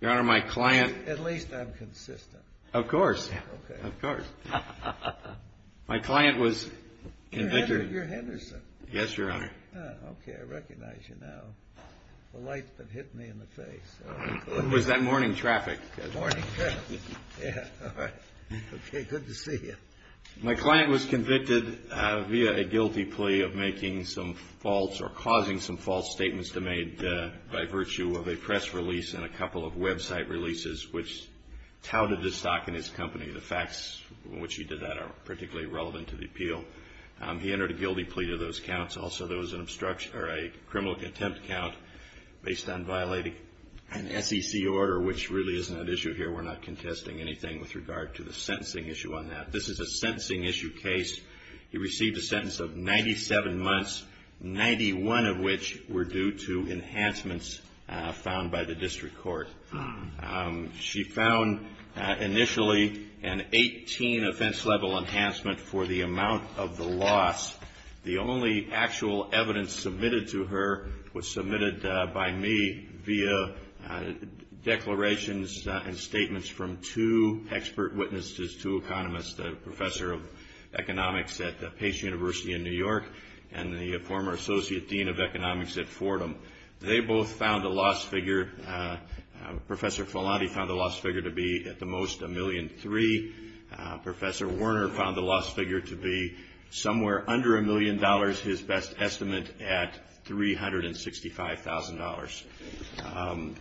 Your Honor, my client... At least I'm consistent. Of course. Of course. My client was convicted... You're Henderson. Yes, Your Honor. Okay, I recognize you now. The light's been hitting me in the face. It was that morning traffic. Morning traffic. Yeah, all right. Okay, good to see you. My client was convicted via a guilty plea of making some false or causing some false statements made by virtue of a press release and a couple of website releases which touted the stock in his company. The facts in which he did that are particularly relevant to the appeal. He entered a guilty plea to those counts. Also, there was a criminal contempt count based on violating an SEC order, which really isn't an issue here. We're not contesting anything with regard to the sentencing issue on that. This is a sentencing issue case. He received a sentence of 97 months, 91 of which were due to enhancements found by the district court. She found initially an 18 offense level enhancement for the amount of the loss. The only actual evidence submitted to her was submitted by me via declarations and statements from two expert witnesses, two economists, a professor of economics at Pace University in New York and the former associate dean of economics at Fordham. They both found a loss figure. Professor Filanti found the loss figure to be at the most $1.3 million. Professor Werner found the loss figure to be somewhere under $1 million, his best estimate at $365,000.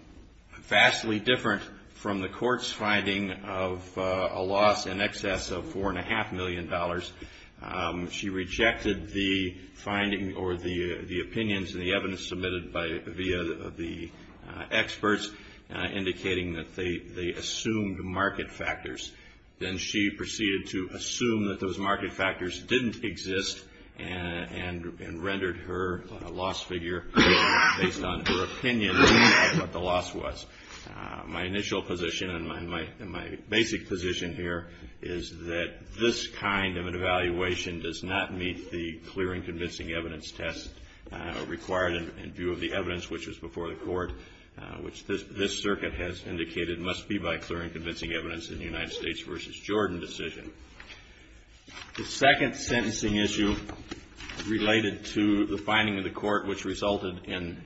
Vastly different from the court's finding of a loss in excess of $4.5 million, she rejected the finding or the opinions and the evidence submitted via the experts, indicating that they assumed market factors. Then she proceeded to assume that those market factors didn't exist and rendered her a loss figure based on her opinion of what the loss was. My initial position and my basic position here is that this kind of an evaluation does not meet the clear and convincing evidence test required in view of the evidence, which was before the court, which this circuit has indicated must be by clear and convincing evidence in the United States v. Jordan decision. The second sentencing issue related to the finding of the court, which resulted in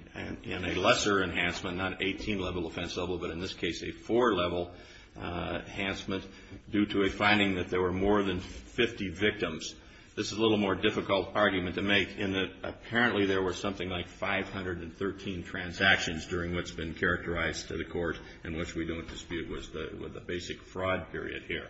a lesser enhancement, not an 18-level offense level, but in this case a four-level enhancement due to a finding that there were more than 50 victims. This is a little more difficult argument to make in that apparently there were something like 513 transactions during what's been characterized to the court and which we don't dispute was the basic fraud period here.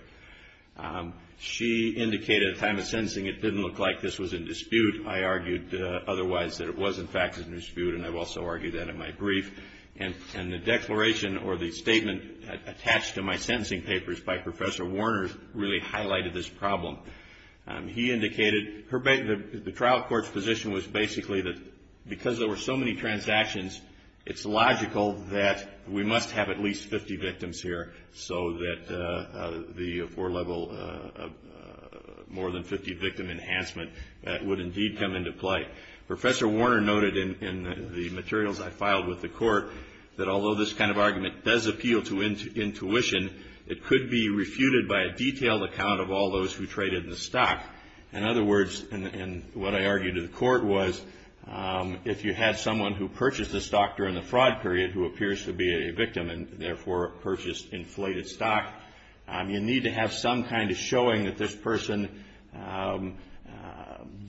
She indicated at the time of sentencing it didn't look like this was in dispute. I argued otherwise that it was, in fact, in dispute, and I've also argued that in my brief. And the declaration or the statement attached to my sentencing papers by Professor Warner really highlighted this problem. He indicated the trial court's position was basically that because there were so many transactions, it's logical that we must have at least 50 victims here so that the four-level more than 50-victim enhancement would indeed come into play. Professor Warner noted in the materials I filed with the court that although this kind of argument does appeal to intuition, it could be refuted by a detailed account of all those who traded the stock. In other words, and what I argued to the court was if you had someone who purchased the stock during the fraud period who appears to be a victim and, therefore, purchased inflated stock, you need to have some kind of showing that this person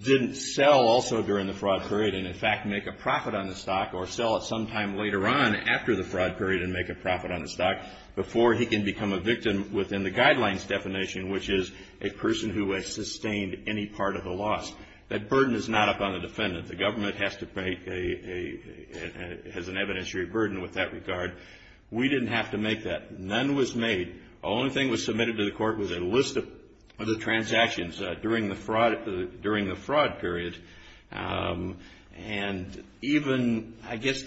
didn't sell also during the fraud period and, in fact, make a profit on the stock or sell it sometime later on after the fraud period and make a profit on the stock before he can become a victim within the guidelines definition, which is a person who has sustained any part of the loss. That burden is not up on the defendant. The government has to pay an evidentiary burden with that regard. We didn't have to make that. None was made. The only thing that was submitted to the court was a list of the transactions during the fraud period. And even, I guess,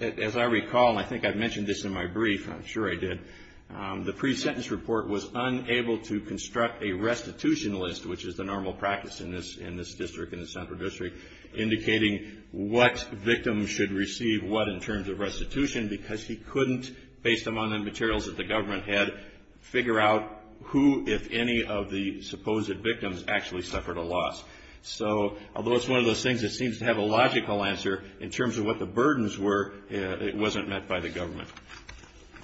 as I recall, and I think I mentioned this in my brief, I'm sure I did, the pre-sentence report was unable to construct a restitution list, which is the normal practice in this district, in the central district, indicating what victims should receive what in terms of restitution because he couldn't, based upon the materials that the government had, figure out who, if any, of the supposed victims actually suffered a loss. So although it's one of those things that seems to have a logical answer, in terms of what the burdens were, it wasn't met by the government.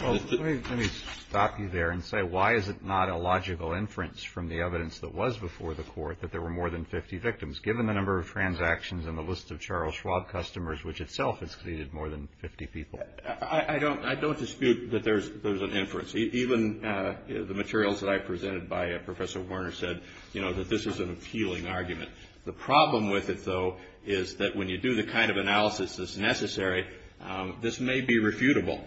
Well, let me stop you there and say, why is it not a logical inference from the evidence that was before the court that there were more than 50 victims, given the number of transactions and the list of Charles Schwab customers, which itself has seated more than 50 people? I don't dispute that there's an inference. Even the materials that I presented by Professor Werner said, you know, that this is an appealing argument. The problem with it, though, is that when you do the kind of analysis that's necessary, this may be refutable.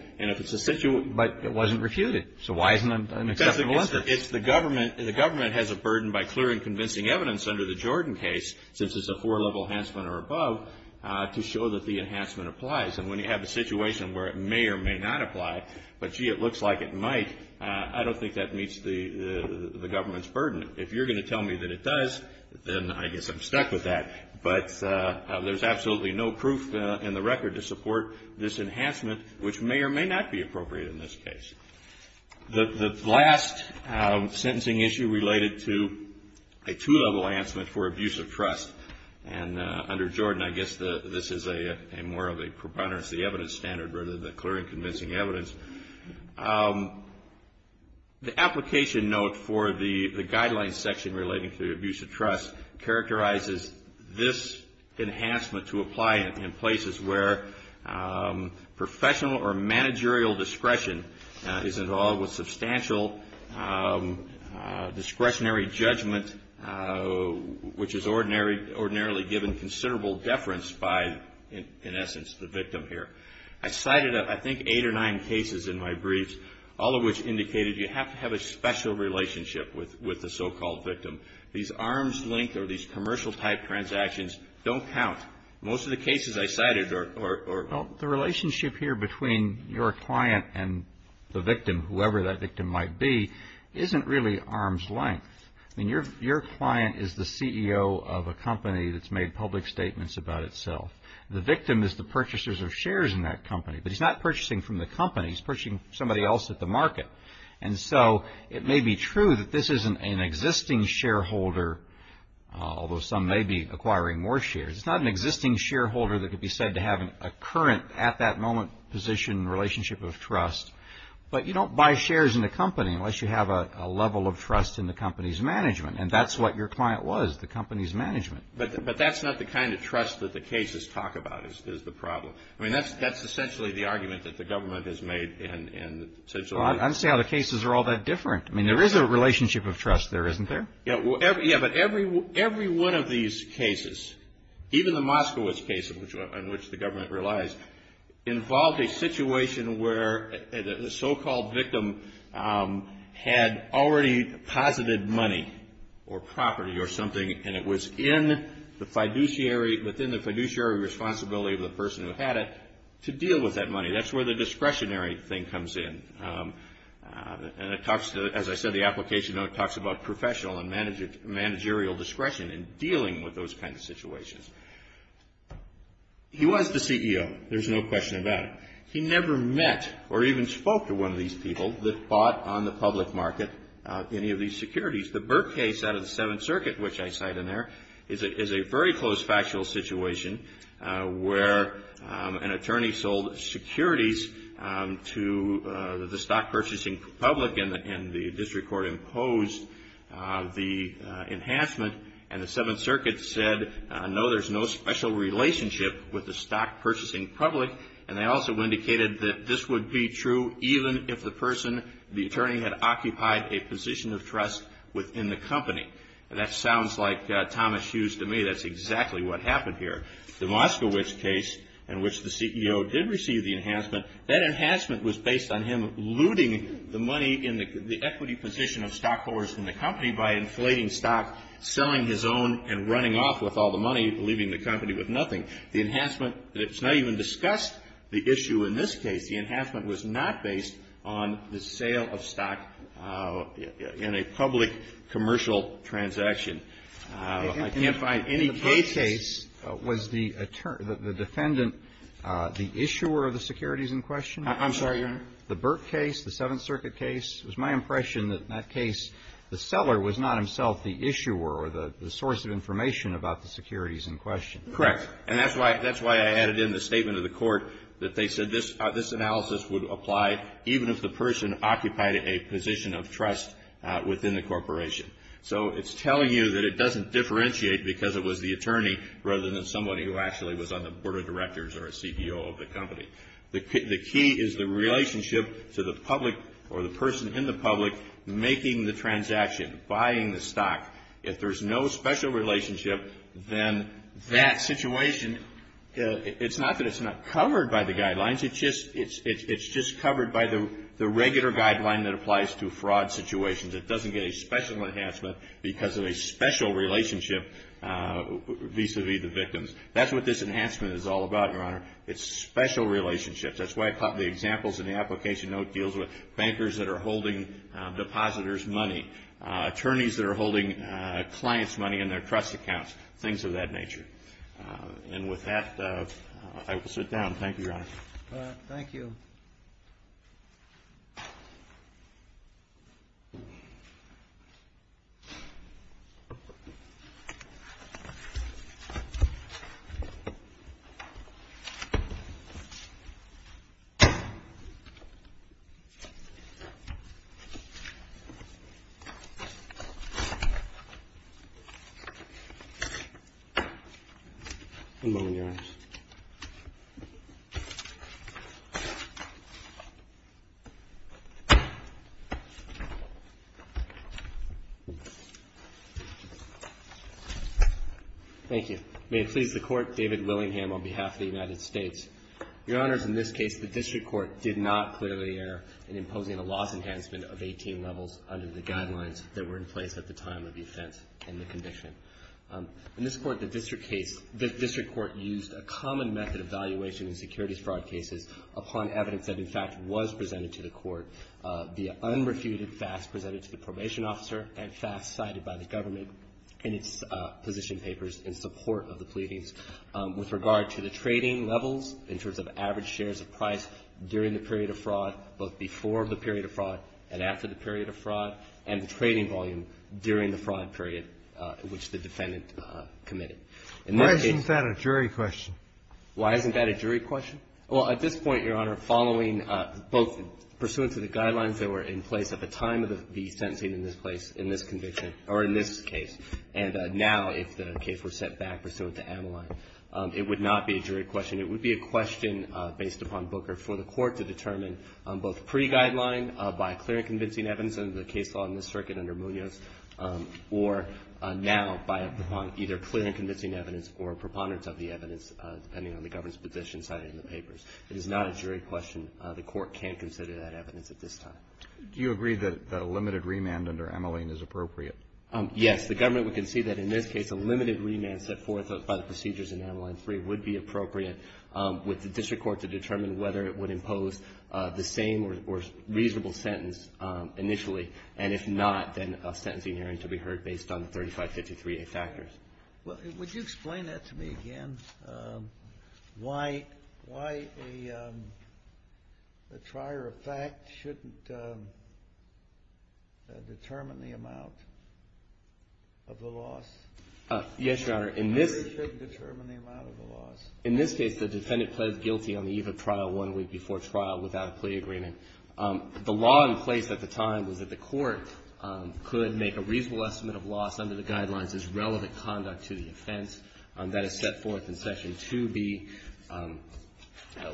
But it wasn't refuted. So why isn't it an acceptable answer? Because the government has a burden by clearing convincing evidence under the Jordan case, since it's a four-level enhancement or above, to show that the enhancement applies. And when you have a situation where it may or may not apply, but, gee, it looks like it might, I don't think that meets the government's burden. If you're going to tell me that it does, then I guess I'm stuck with that. But there's absolutely no proof in the record to support this enhancement, which may or may not be appropriate in this case. The last sentencing issue related to a two-level enhancement for abuse of trust, and under Jordan I guess this is more of a preponderance of the evidence standard rather than the clearing convincing evidence. The application note for the guidelines section relating to the abuse of trust characterizes this enhancement to apply in places where professional or managerial discretion is involved with substantial discretionary judgment, which is ordinarily given considerable deference by, in essence, the victim here. I cited, I think, eight or nine cases in my briefs, all of which indicated you have to have a special relationship with the so-called victim. These arm's length or these commercial-type transactions don't count. Most of the cases I cited are... Well, the relationship here between your client and the victim, whoever that victim might be, isn't really arm's length. I mean, your client is the CEO of a company that's made public statements about itself. The victim is the purchasers of shares in that company, but he's not purchasing from the company. He's purchasing from somebody else at the market. And so it may be true that this is an existing shareholder, although some may be acquiring more shares. It's not an existing shareholder that could be said to have a current, at that moment position relationship of trust. But you don't buy shares in a company unless you have a level of trust in the company's management, and that's what your client was, the company's management. But that's not the kind of trust that the cases talk about is the problem. I mean, that's essentially the argument that the government has made. Well, I don't see how the cases are all that different. I mean, there is a relationship of trust there, isn't there? Yeah, but every one of these cases, even the Moskowitz case on which the government relies, involved a situation where the so-called victim had already posited money or property or something, and it was in the fiduciary responsibility of the person who had it to deal with that money. That's where the discretionary thing comes in. And it talks to, as I said, the application note talks about professional and managerial discretion in dealing with those kinds of situations. He was the CEO. There's no question about it. He never met or even spoke to one of these people that bought on the public market any of these securities. The Burke case out of the Seventh Circuit, which I cite in there, is a very close factual situation where an attorney sold securities to the stock-purchasing public, and the district court imposed the enhancement. And the Seventh Circuit said, no, there's no special relationship with the stock-purchasing public. And they also indicated that this would be true even if the person, the attorney had occupied a position of trust within the company. And that sounds like Thomas Hughes to me. That's exactly what happened here. The Moskowitz case in which the CEO did receive the enhancement, that enhancement was based on him looting the money in the equity position of stockholders in the company by inflating stock, selling his own, and running off with all the money, leaving the company with nothing. The enhancement, it's not even discussed the issue in this case. The enhancement was not based on the sale of stock in a public commercial transaction. I can't find any cases ---- In the Burke case, was the defendant the issuer of the securities in question? I'm sorry, Your Honor? The Burke case, the Seventh Circuit case, it was my impression that in that case, the seller was not himself the issuer or the source of information about the securities in question. Correct. And that's why I added in the statement of the court that they said this analysis would apply even if the person occupied a position of trust within the corporation. So it's telling you that it doesn't differentiate because it was the attorney rather than somebody who actually was on the board of directors or a CEO of the company. The key is the relationship to the public or the person in the public making the transaction, buying the stock. If there's no special relationship, then that situation, it's not that it's not covered by the guidelines. It's just covered by the regular guideline that applies to fraud situations. It doesn't get a special enhancement because of a special relationship vis-à-vis the victims. That's what this enhancement is all about, Your Honor. It's special relationships. That's why I put the examples in the application note deals with bankers that are holding depositors' money, attorneys that are holding clients' money in their trust accounts, things of that nature. And with that, I will sit down. Thank you, Your Honor. Thank you. One moment, Your Honors. Thank you. May it please the Court, David Willingham on behalf of the United States. Your Honors, in this case, the district court did not clearly err in imposing a loss enhancement of 18 levels under the guidelines that were in place at the time of the offense and the condition. In this court, the district court used a common method of valuation in securities fraud cases upon evidence that, in fact, was presented to the court. The unrefuted facts presented to the probation officer and facts cited by the government in its position papers in support of the pleadings with regard to the trading levels in terms of average shares of price during the period of fraud, both before the period of fraud and after the period of fraud, and the trading volume during the fraud period which the defendant committed. Why isn't that a jury question? Why isn't that a jury question? Well, at this point, Your Honor, following both pursuant to the guidelines that were in place at the time of the sentencing in this place, in this conviction, or in this case, and now if the case were set back pursuant to Ameline, it would not be a jury question. It would be a question based upon Booker for the Court to determine both pre-guideline by clear and convincing evidence under the case law in this circuit under Munoz, or now by either clear and convincing evidence or a preponderance of the evidence, depending on the government's position cited in the papers. It is not a jury question. The Court can't consider that evidence at this time. Do you agree that a limited remand under Ameline is appropriate? Yes. The government would concede that in this case a limited remand set forth by the procedures in Ameline III would be appropriate with the district court to determine whether it would impose the same or reasonable sentence initially, and if not, then a sentencing hearing to be heard based on the 3553A factors. Well, would you explain that to me again? Why a trier of fact shouldn't determine the amount of the loss? Yes, Your Honor. Or it shouldn't determine the amount of the loss. In this case, the defendant pled guilty on the eve of trial one week before trial without a plea agreement. The law in place at the time was that the Court could make a reasonable estimate of loss under the guidelines as relevant conduct to the offense. That is set forth in Section 2B at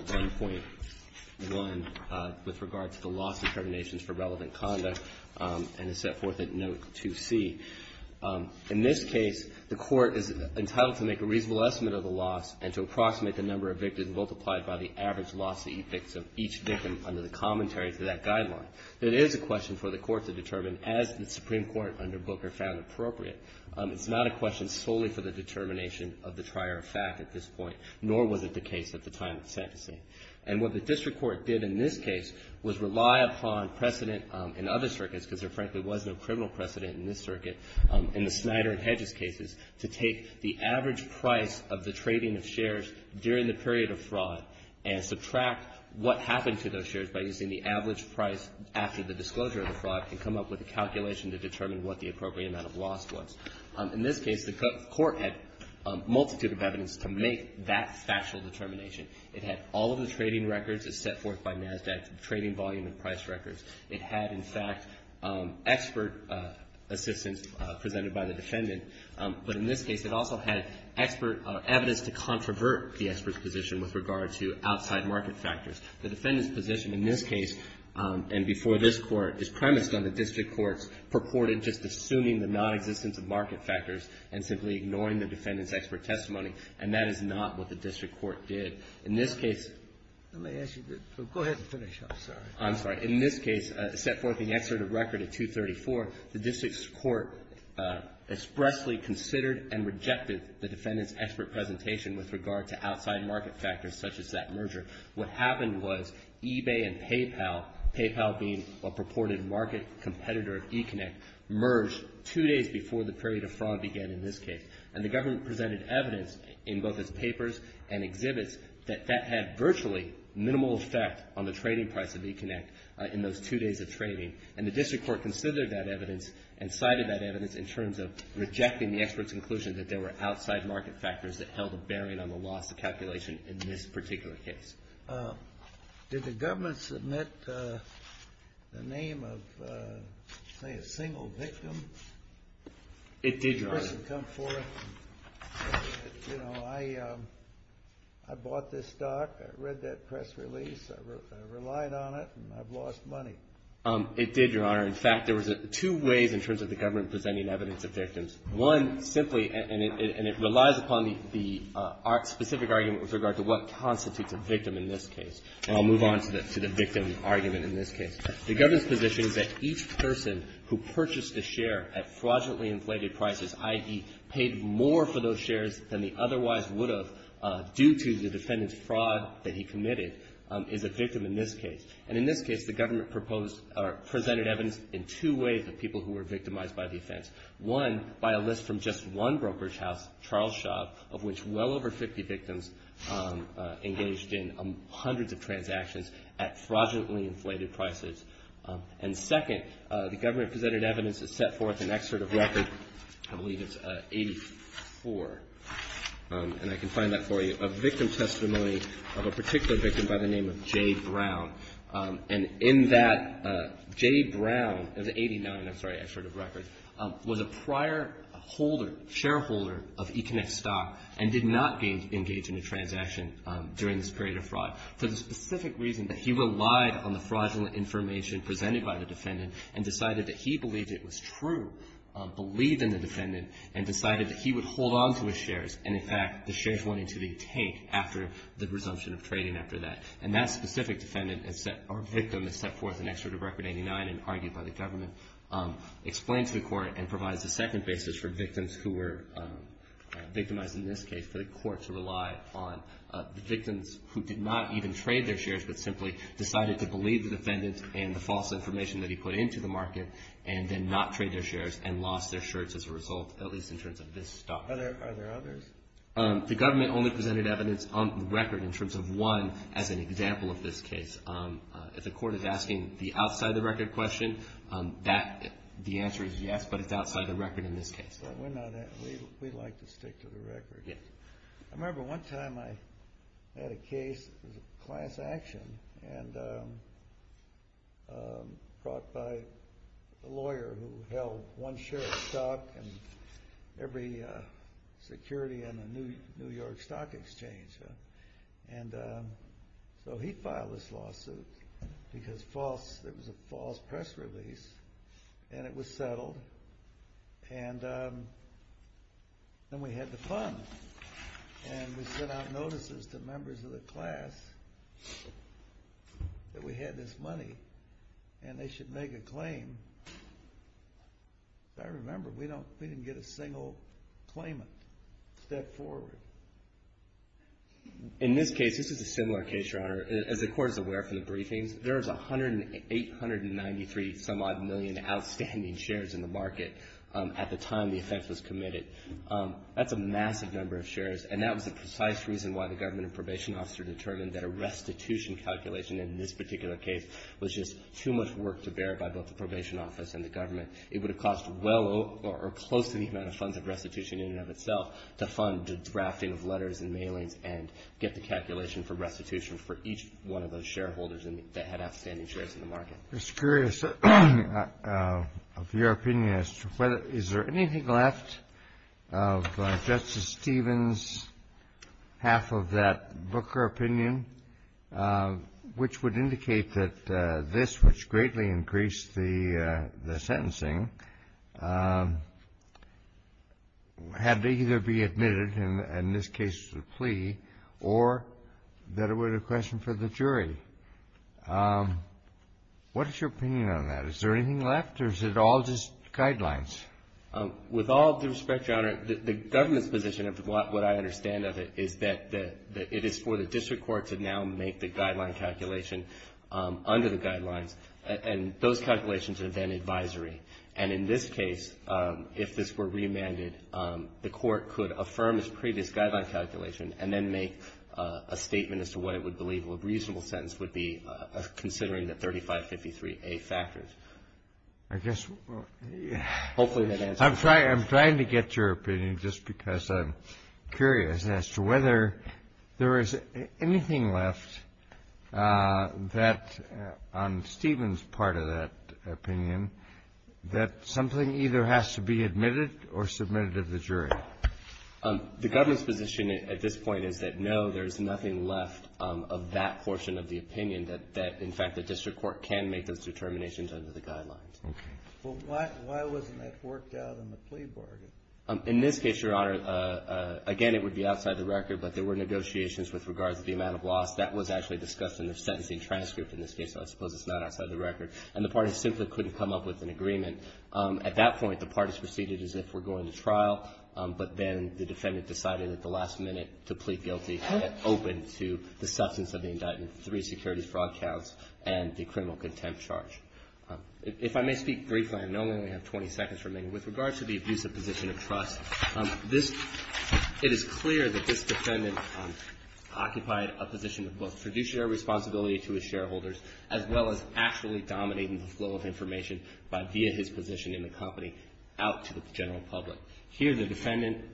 1.1 with regard to the loss determinations for relevant conduct and is set forth at Note 2C. In this case, the Court is entitled to make a reasonable estimate of the loss and to approximate the number of victims multiplied by the average loss of each victim under the commentary to that guideline. It is a question for the Court to determine as the Supreme Court under Booker found appropriate. It's not a question solely for the determination of the trier of fact at this point, nor was it the case at the time of sentencing. And what the district court did in this case was rely upon precedent in other circuits, because there frankly was no criminal precedent in this circuit, in the Snyder and Hedges cases, to take the average price of the trading of shares during the period of fraud and subtract what happened to those shares by using the average price after the disclosure of the fraud and come up with a calculation to determine what the appropriate amount of loss was. In this case, the Court had a multitude of evidence to make that factual determination. It had all of the trading records as set forth by NASDAQ, trading volume and price records. It had, in fact, expert assistance presented by the defendant. But in this case, it also had expert evidence to controvert the expert's position with regard to outside market factors. The defendant's position in this case and before this Court is premised on the district court's purported just assuming the nonexistence of market factors and simply ignoring the defendant's expert testimony, and that is not what the district court did. In this case — Let me ask you to go ahead and finish. I'm sorry. In this case, set forth in the excerpt of record of 234, the district court expressly considered and rejected the defendant's expert presentation with regard to outside market factors such as that merger. What happened was eBay and PayPal, PayPal being a purported market competitor of eConnect, merged two days before the period of fraud began in this case. And the government presented evidence in both its papers and exhibits that that had virtually minimal effect on the trading price of eConnect in those two days of trading. And the district court considered that evidence and cited that evidence in terms of rejecting the expert's conclusion that there were outside market factors that held a bearing on the loss of calculation in this particular case. Did the government submit the name of, say, a single victim? It did, Your Honor. I bought this stock. I read that press release. I relied on it, and I've lost money. It did, Your Honor. In fact, there was two ways in terms of the government presenting evidence of victims. One simply, and it relies upon the specific argument with regard to what constitutes a victim in this case. And I'll move on to the victim argument in this case. The government's position is that each person who purchased a share at fraudulently inflated prices, i.e., paid more for those shares than they otherwise would have due to the defendant's fraud that he committed, is a victim in this case. And in this case, the government proposed or presented evidence in two ways of people who were victimized by the offense. One, by a list from just one brokerage house, Charles Shop, of which well over 50 victims engaged in hundreds of transactions at fraudulently inflated prices. And second, the government presented evidence to set forth an excerpt of record, I believe it's 84, and I can find that for you, a victim testimony of a particular victim by the name of Jay Brown. And in that, Jay Brown, it was 89, I'm sorry, an excerpt of record, was a prior holder, shareholder of Econet stock and did not engage in a transaction during this period of fraud. For the specific reason that he relied on the fraudulent information presented by the defendant and decided that he believed it was true, believed in the defendant, and decided that he would hold on to his shares, and in fact, the shares went into the tank after the resumption of trading after that. And that specific defendant or victim is set forth an excerpt of record 89 and argued by the government, explained to the court, and provides a second basis for victims who were victimized in this case for the court to rely on. The victims who did not even trade their shares but simply decided to believe the defendant and the false information that he put into the market and then not trade their shares and lost their shares as a result, at least in terms of this stock. Are there others? The government only presented evidence on record in terms of one as an example of this case. If the court is asking the outside-the-record question, that, the answer is yes, but it's outside the record in this case. We like to stick to the record. I remember one time I had a case, it was a class action, and brought by a lawyer who held one share of stock and every security in the New York Stock Exchange. And so he filed this lawsuit because there was a false press release, and it was settled. And then we had the funds, and we sent out notices to members of the class that we had this money and they should make a claim. I remember we didn't get a single claimant. Step forward. In this case, this is a similar case, Your Honor. As the court is aware from the briefings, there is 1893 some odd million outstanding shares in the market at the time the offense was committed. That's a massive number of shares. And that was the precise reason why the government and probation officer determined that a restitution calculation in this particular case was just too much work to bear by both the probation office and the government. It would have cost well over or close to the amount of funds of restitution in and of itself to fund the drafting of letters and mailings and get the calculation for restitution for each one of those shareholders that had outstanding shares in the market. I'm just curious of your opinion as to whether – is there anything left of Justice Stevens' half of that Booker opinion which would indicate that this, which greatly increased the sentencing, had to either be admitted in this case to the plea or that it were the question for the jury. What is your opinion on that? Is there anything left or is it all just guidelines? With all due respect, Your Honor, the government's position of what I understand of it is that it is for the district court to now make the guideline calculation under the guidelines. And those calculations are then advisory. And in this case, if this were remanded, the court could affirm its previous guideline calculation and then make a statement as to what it would believe a reasonable sentence would be considering the 3553A factors. I guess we'll – Hopefully that answers your question. I'm trying to get your opinion just because I'm curious as to whether there is anything left that on Stevens' part of that opinion that something either has to be admitted or submitted to the jury. The government's position at this point is that, no, there's nothing left of that portion of the opinion that, in fact, the district court can make those determinations under the guidelines. Okay. Well, why wasn't that worked out in the plea bargain? In this case, Your Honor, again, it would be outside the record, but there were negotiations with regards to the amount of loss. That was actually discussed in the sentencing transcript in this case, so I suppose it's not outside the record. And the parties simply couldn't come up with an agreement. At that point, the parties proceeded as if we're going to trial, but then the defendant decided at the last minute to plead guilty, open to the substance of the indictment, three securities fraud counts and the criminal contempt charge. If I may speak briefly, I know I only have 20 seconds remaining. With regards to the abusive position of trust, it is clear that this defendant occupied a position of both fiduciary responsibility to his shareholders as well as actually dominating the flow of information via his position in the company out to the general public. Here the defendant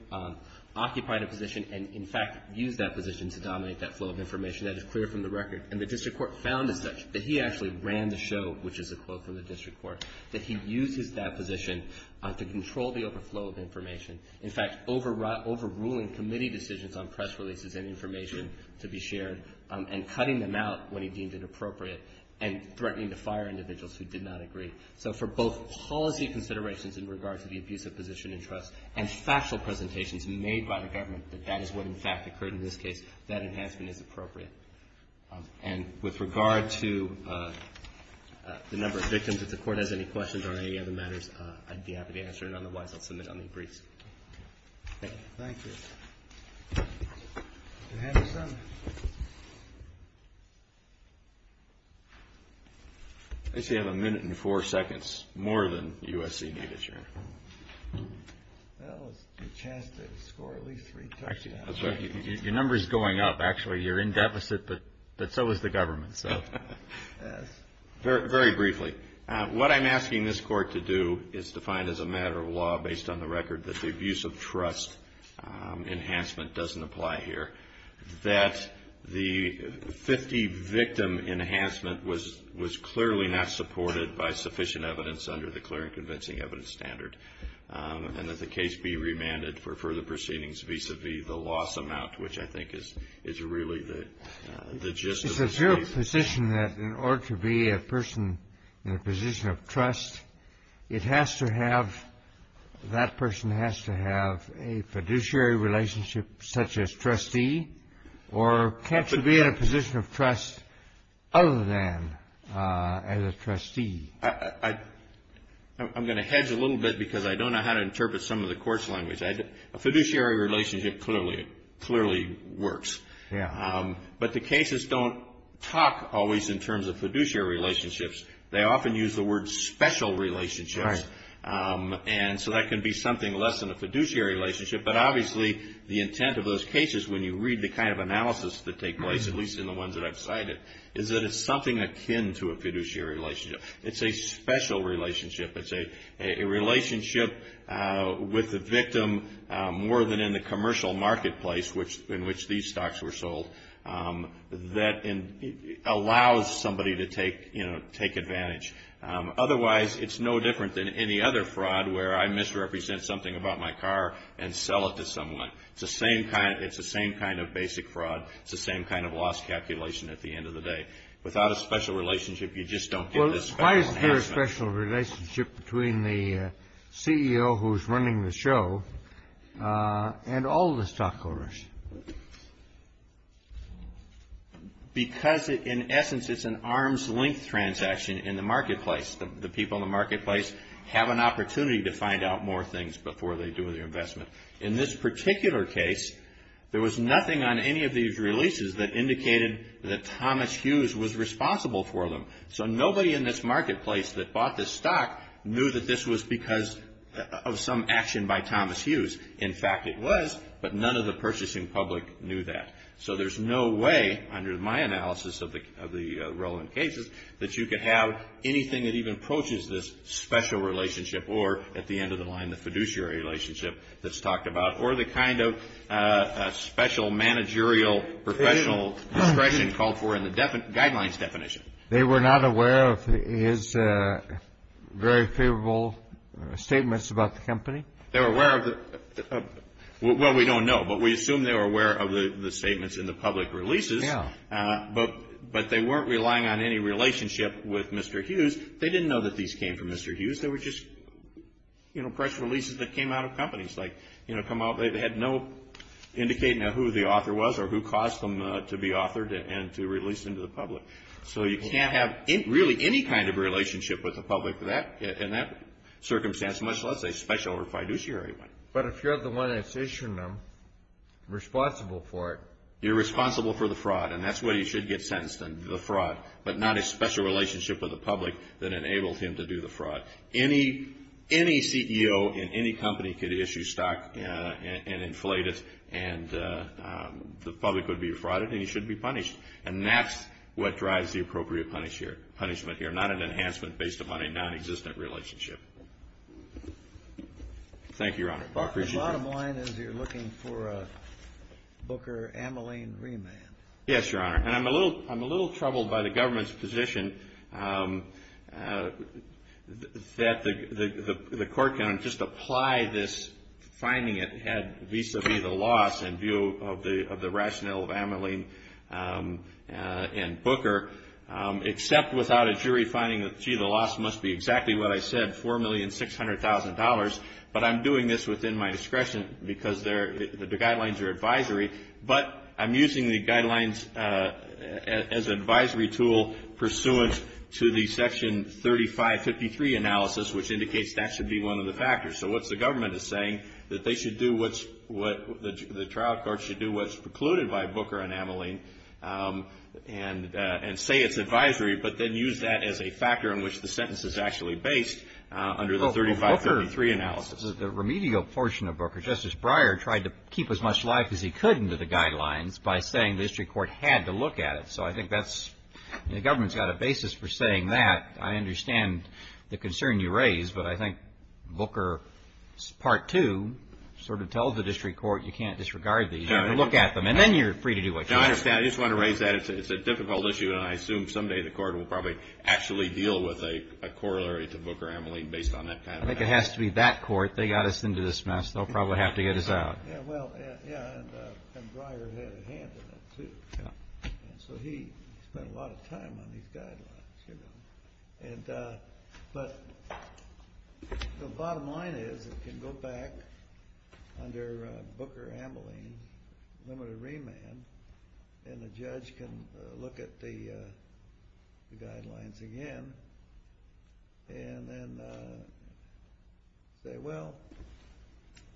occupied a position and, in fact, used that position to dominate that flow of information. That is clear from the record. And the district court found that he actually ran the show, which is a quote from the district court, that he uses that position to control the overflow of information, in fact, overruling committee decisions on press releases and information to be shared and cutting them out when he deemed it appropriate and threatening to fire individuals who did not agree. So for both policy considerations in regard to the abusive position of trust and factual presentations made by the government that that is what, in fact, occurred in this case, that enhancement is appropriate. And with regard to the number of victims, if the Court has any questions on any other matters, I'd be happy to answer, and otherwise I'll submit on the briefs. Thank you. Thank you. Mr. Henderson? I see I have a minute and four seconds more than USC needed, Your Honor. Well, it's your chance to score at least three points. Your number is going up, actually. You're in deficit, but so is the government. Very briefly, what I'm asking this Court to do is to find as a matter of law based on the record that the abusive trust enhancement doesn't apply here, that the 50-victim enhancement was clearly not supported by sufficient evidence under the clear and convincing evidence standard, and that the case be remanded for further proceedings vis-à-vis the loss amount, which I think is really the gist of the case. I have a position that in order to be a person in a position of trust, it has to have, that person has to have a fiduciary relationship such as trustee, or can't you be in a position of trust other than as a trustee? I'm going to hedge a little bit because I don't know how to interpret some of the Court's language. A fiduciary relationship clearly works. But the cases don't talk always in terms of fiduciary relationships. They often use the word special relationships, and so that can be something less than a fiduciary relationship, but obviously the intent of those cases when you read the kind of analysis that take place, at least in the ones that I've cited, is that it's something akin to a fiduciary relationship. It's a special relationship. It's a relationship with the victim more than in the commercial marketplace in which these stocks were sold that allows somebody to take advantage. Otherwise, it's no different than any other fraud where I misrepresent something about my car and sell it to someone. It's the same kind of basic fraud. It's the same kind of loss calculation at the end of the day. Without a special relationship, you just don't get this special enhancement. The relationship between the CEO who's running the show and all the stockholders. Because, in essence, it's an arm's-length transaction in the marketplace. The people in the marketplace have an opportunity to find out more things before they do their investment. In this particular case, there was nothing on any of these releases that indicated that Thomas Hughes was responsible for them. So nobody in this marketplace that bought this stock knew that this was because of some action by Thomas Hughes. In fact, it was, but none of the purchasing public knew that. So there's no way, under my analysis of the Rowland cases, that you could have anything that even approaches this special relationship or, at the end of the line, the fiduciary relationship that's talked about or the kind of special managerial professional discretion called for in the guidelines definition. They were not aware of his very favorable statements about the company? They were aware of the – well, we don't know. But we assume they were aware of the statements in the public releases. Yeah. But they weren't relying on any relationship with Mr. Hughes. They didn't know that these came from Mr. Hughes. They were just, you know, press releases that came out of companies. Like, you know, they had no indicating of who the author was or who caused them to be authored and to release them to the public. So you can't have really any kind of relationship with the public in that circumstance, much less a special or fiduciary one. But if you're the one that's issuing them, responsible for it. You're responsible for the fraud, and that's where you should get sentenced, the fraud, but not a special relationship with the public that enables him to do the fraud. Any CEO in any company could issue stock and inflate it, and the public would be frauded, and he should be punished. And that's what drives the appropriate punishment here, not an enhancement based upon a non-existent relationship. Thank you, Your Honor. I appreciate it. The bottom line is you're looking for a Booker-Ameline remand. Yes, Your Honor. And I'm a little troubled by the government's position that the court can just apply this, finding it had vis-a-vis the loss in view of the rationale of Ameline and Booker, except without a jury finding that, gee, the loss must be exactly what I said, $4,600,000, but I'm doing this within my discretion because the guidelines are advisory, but I'm using the guidelines as an advisory tool pursuant to the Section 3553 analysis, so what the government is saying is that the trial court should do what's precluded by Booker and Ameline and say it's advisory but then use that as a factor in which the sentence is actually based under the 3533 analysis. The remedial portion of Booker, Justice Breyer tried to keep as much life as he could into the guidelines by saying the district court had to look at it, so I think the government's got a basis for saying that. In fact, I understand the concern you raise, but I think Booker Part 2 sort of tells the district court you can't disregard these. You have to look at them, and then you're free to do what you want. I understand. I just wanted to raise that. It's a difficult issue, and I assume someday the court will probably actually deal with a corollary to Booker-Ameline based on that kind of analysis. I think it has to be that court. They got us into this mess. They'll probably have to get us out. Well, yeah, and Breyer had a hand in it, too. So he spent a lot of time on these guidelines. But the bottom line is it can go back under Booker-Ameline, limited remand, and the judge can look at the guidelines again and then say, well,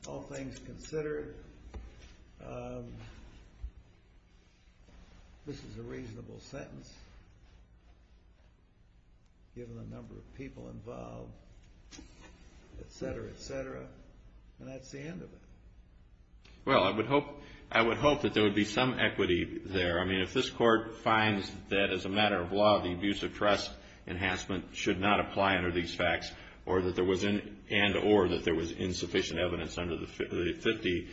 all things considered, this is a reasonable sentence, given the number of people involved, et cetera, et cetera, and that's the end of it. Well, I would hope that there would be some equity there. I mean, if this court finds that as a matter of law, the abuse of trust enhancement should not apply under these facts and or that there was insufficient evidence under the 50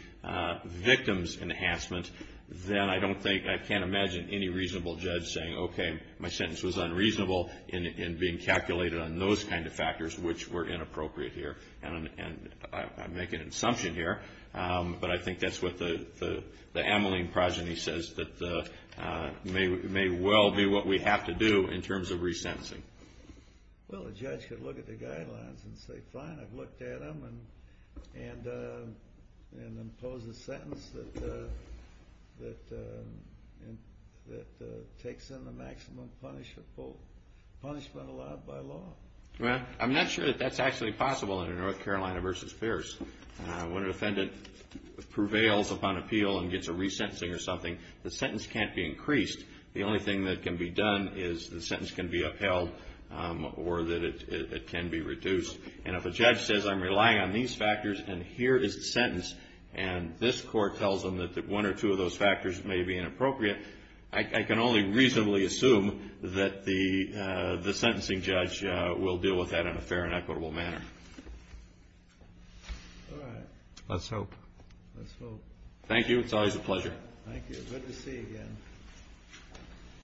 victims enhancement, then I don't think, I can't imagine any reasonable judge saying, okay, my sentence was unreasonable in being calculated on those kind of factors, which were inappropriate here. And I'm making an assumption here, but I think that's what the Ameline progeny says, that it may well be what we have to do in terms of resentencing. Well, the judge could look at the guidelines and say, fine, I've looked at them and impose a sentence that takes in the maximum punishment allowed by law. Well, I'm not sure that that's actually possible under North Carolina v. Pierce. When a defendant prevails upon appeal and gets a resentencing or something, the sentence can't be increased. The only thing that can be done is the sentence can be upheld or that it can be reduced. And if a judge says I'm relying on these factors and here is the sentence and this court tells them that one or two of those factors may be inappropriate, I can only reasonably assume that the sentencing judge will deal with that in a fair and equitable manner. All right. Let's hope. Let's hope. Thank you. It's always a pleasure. Thank you. Good to see you again.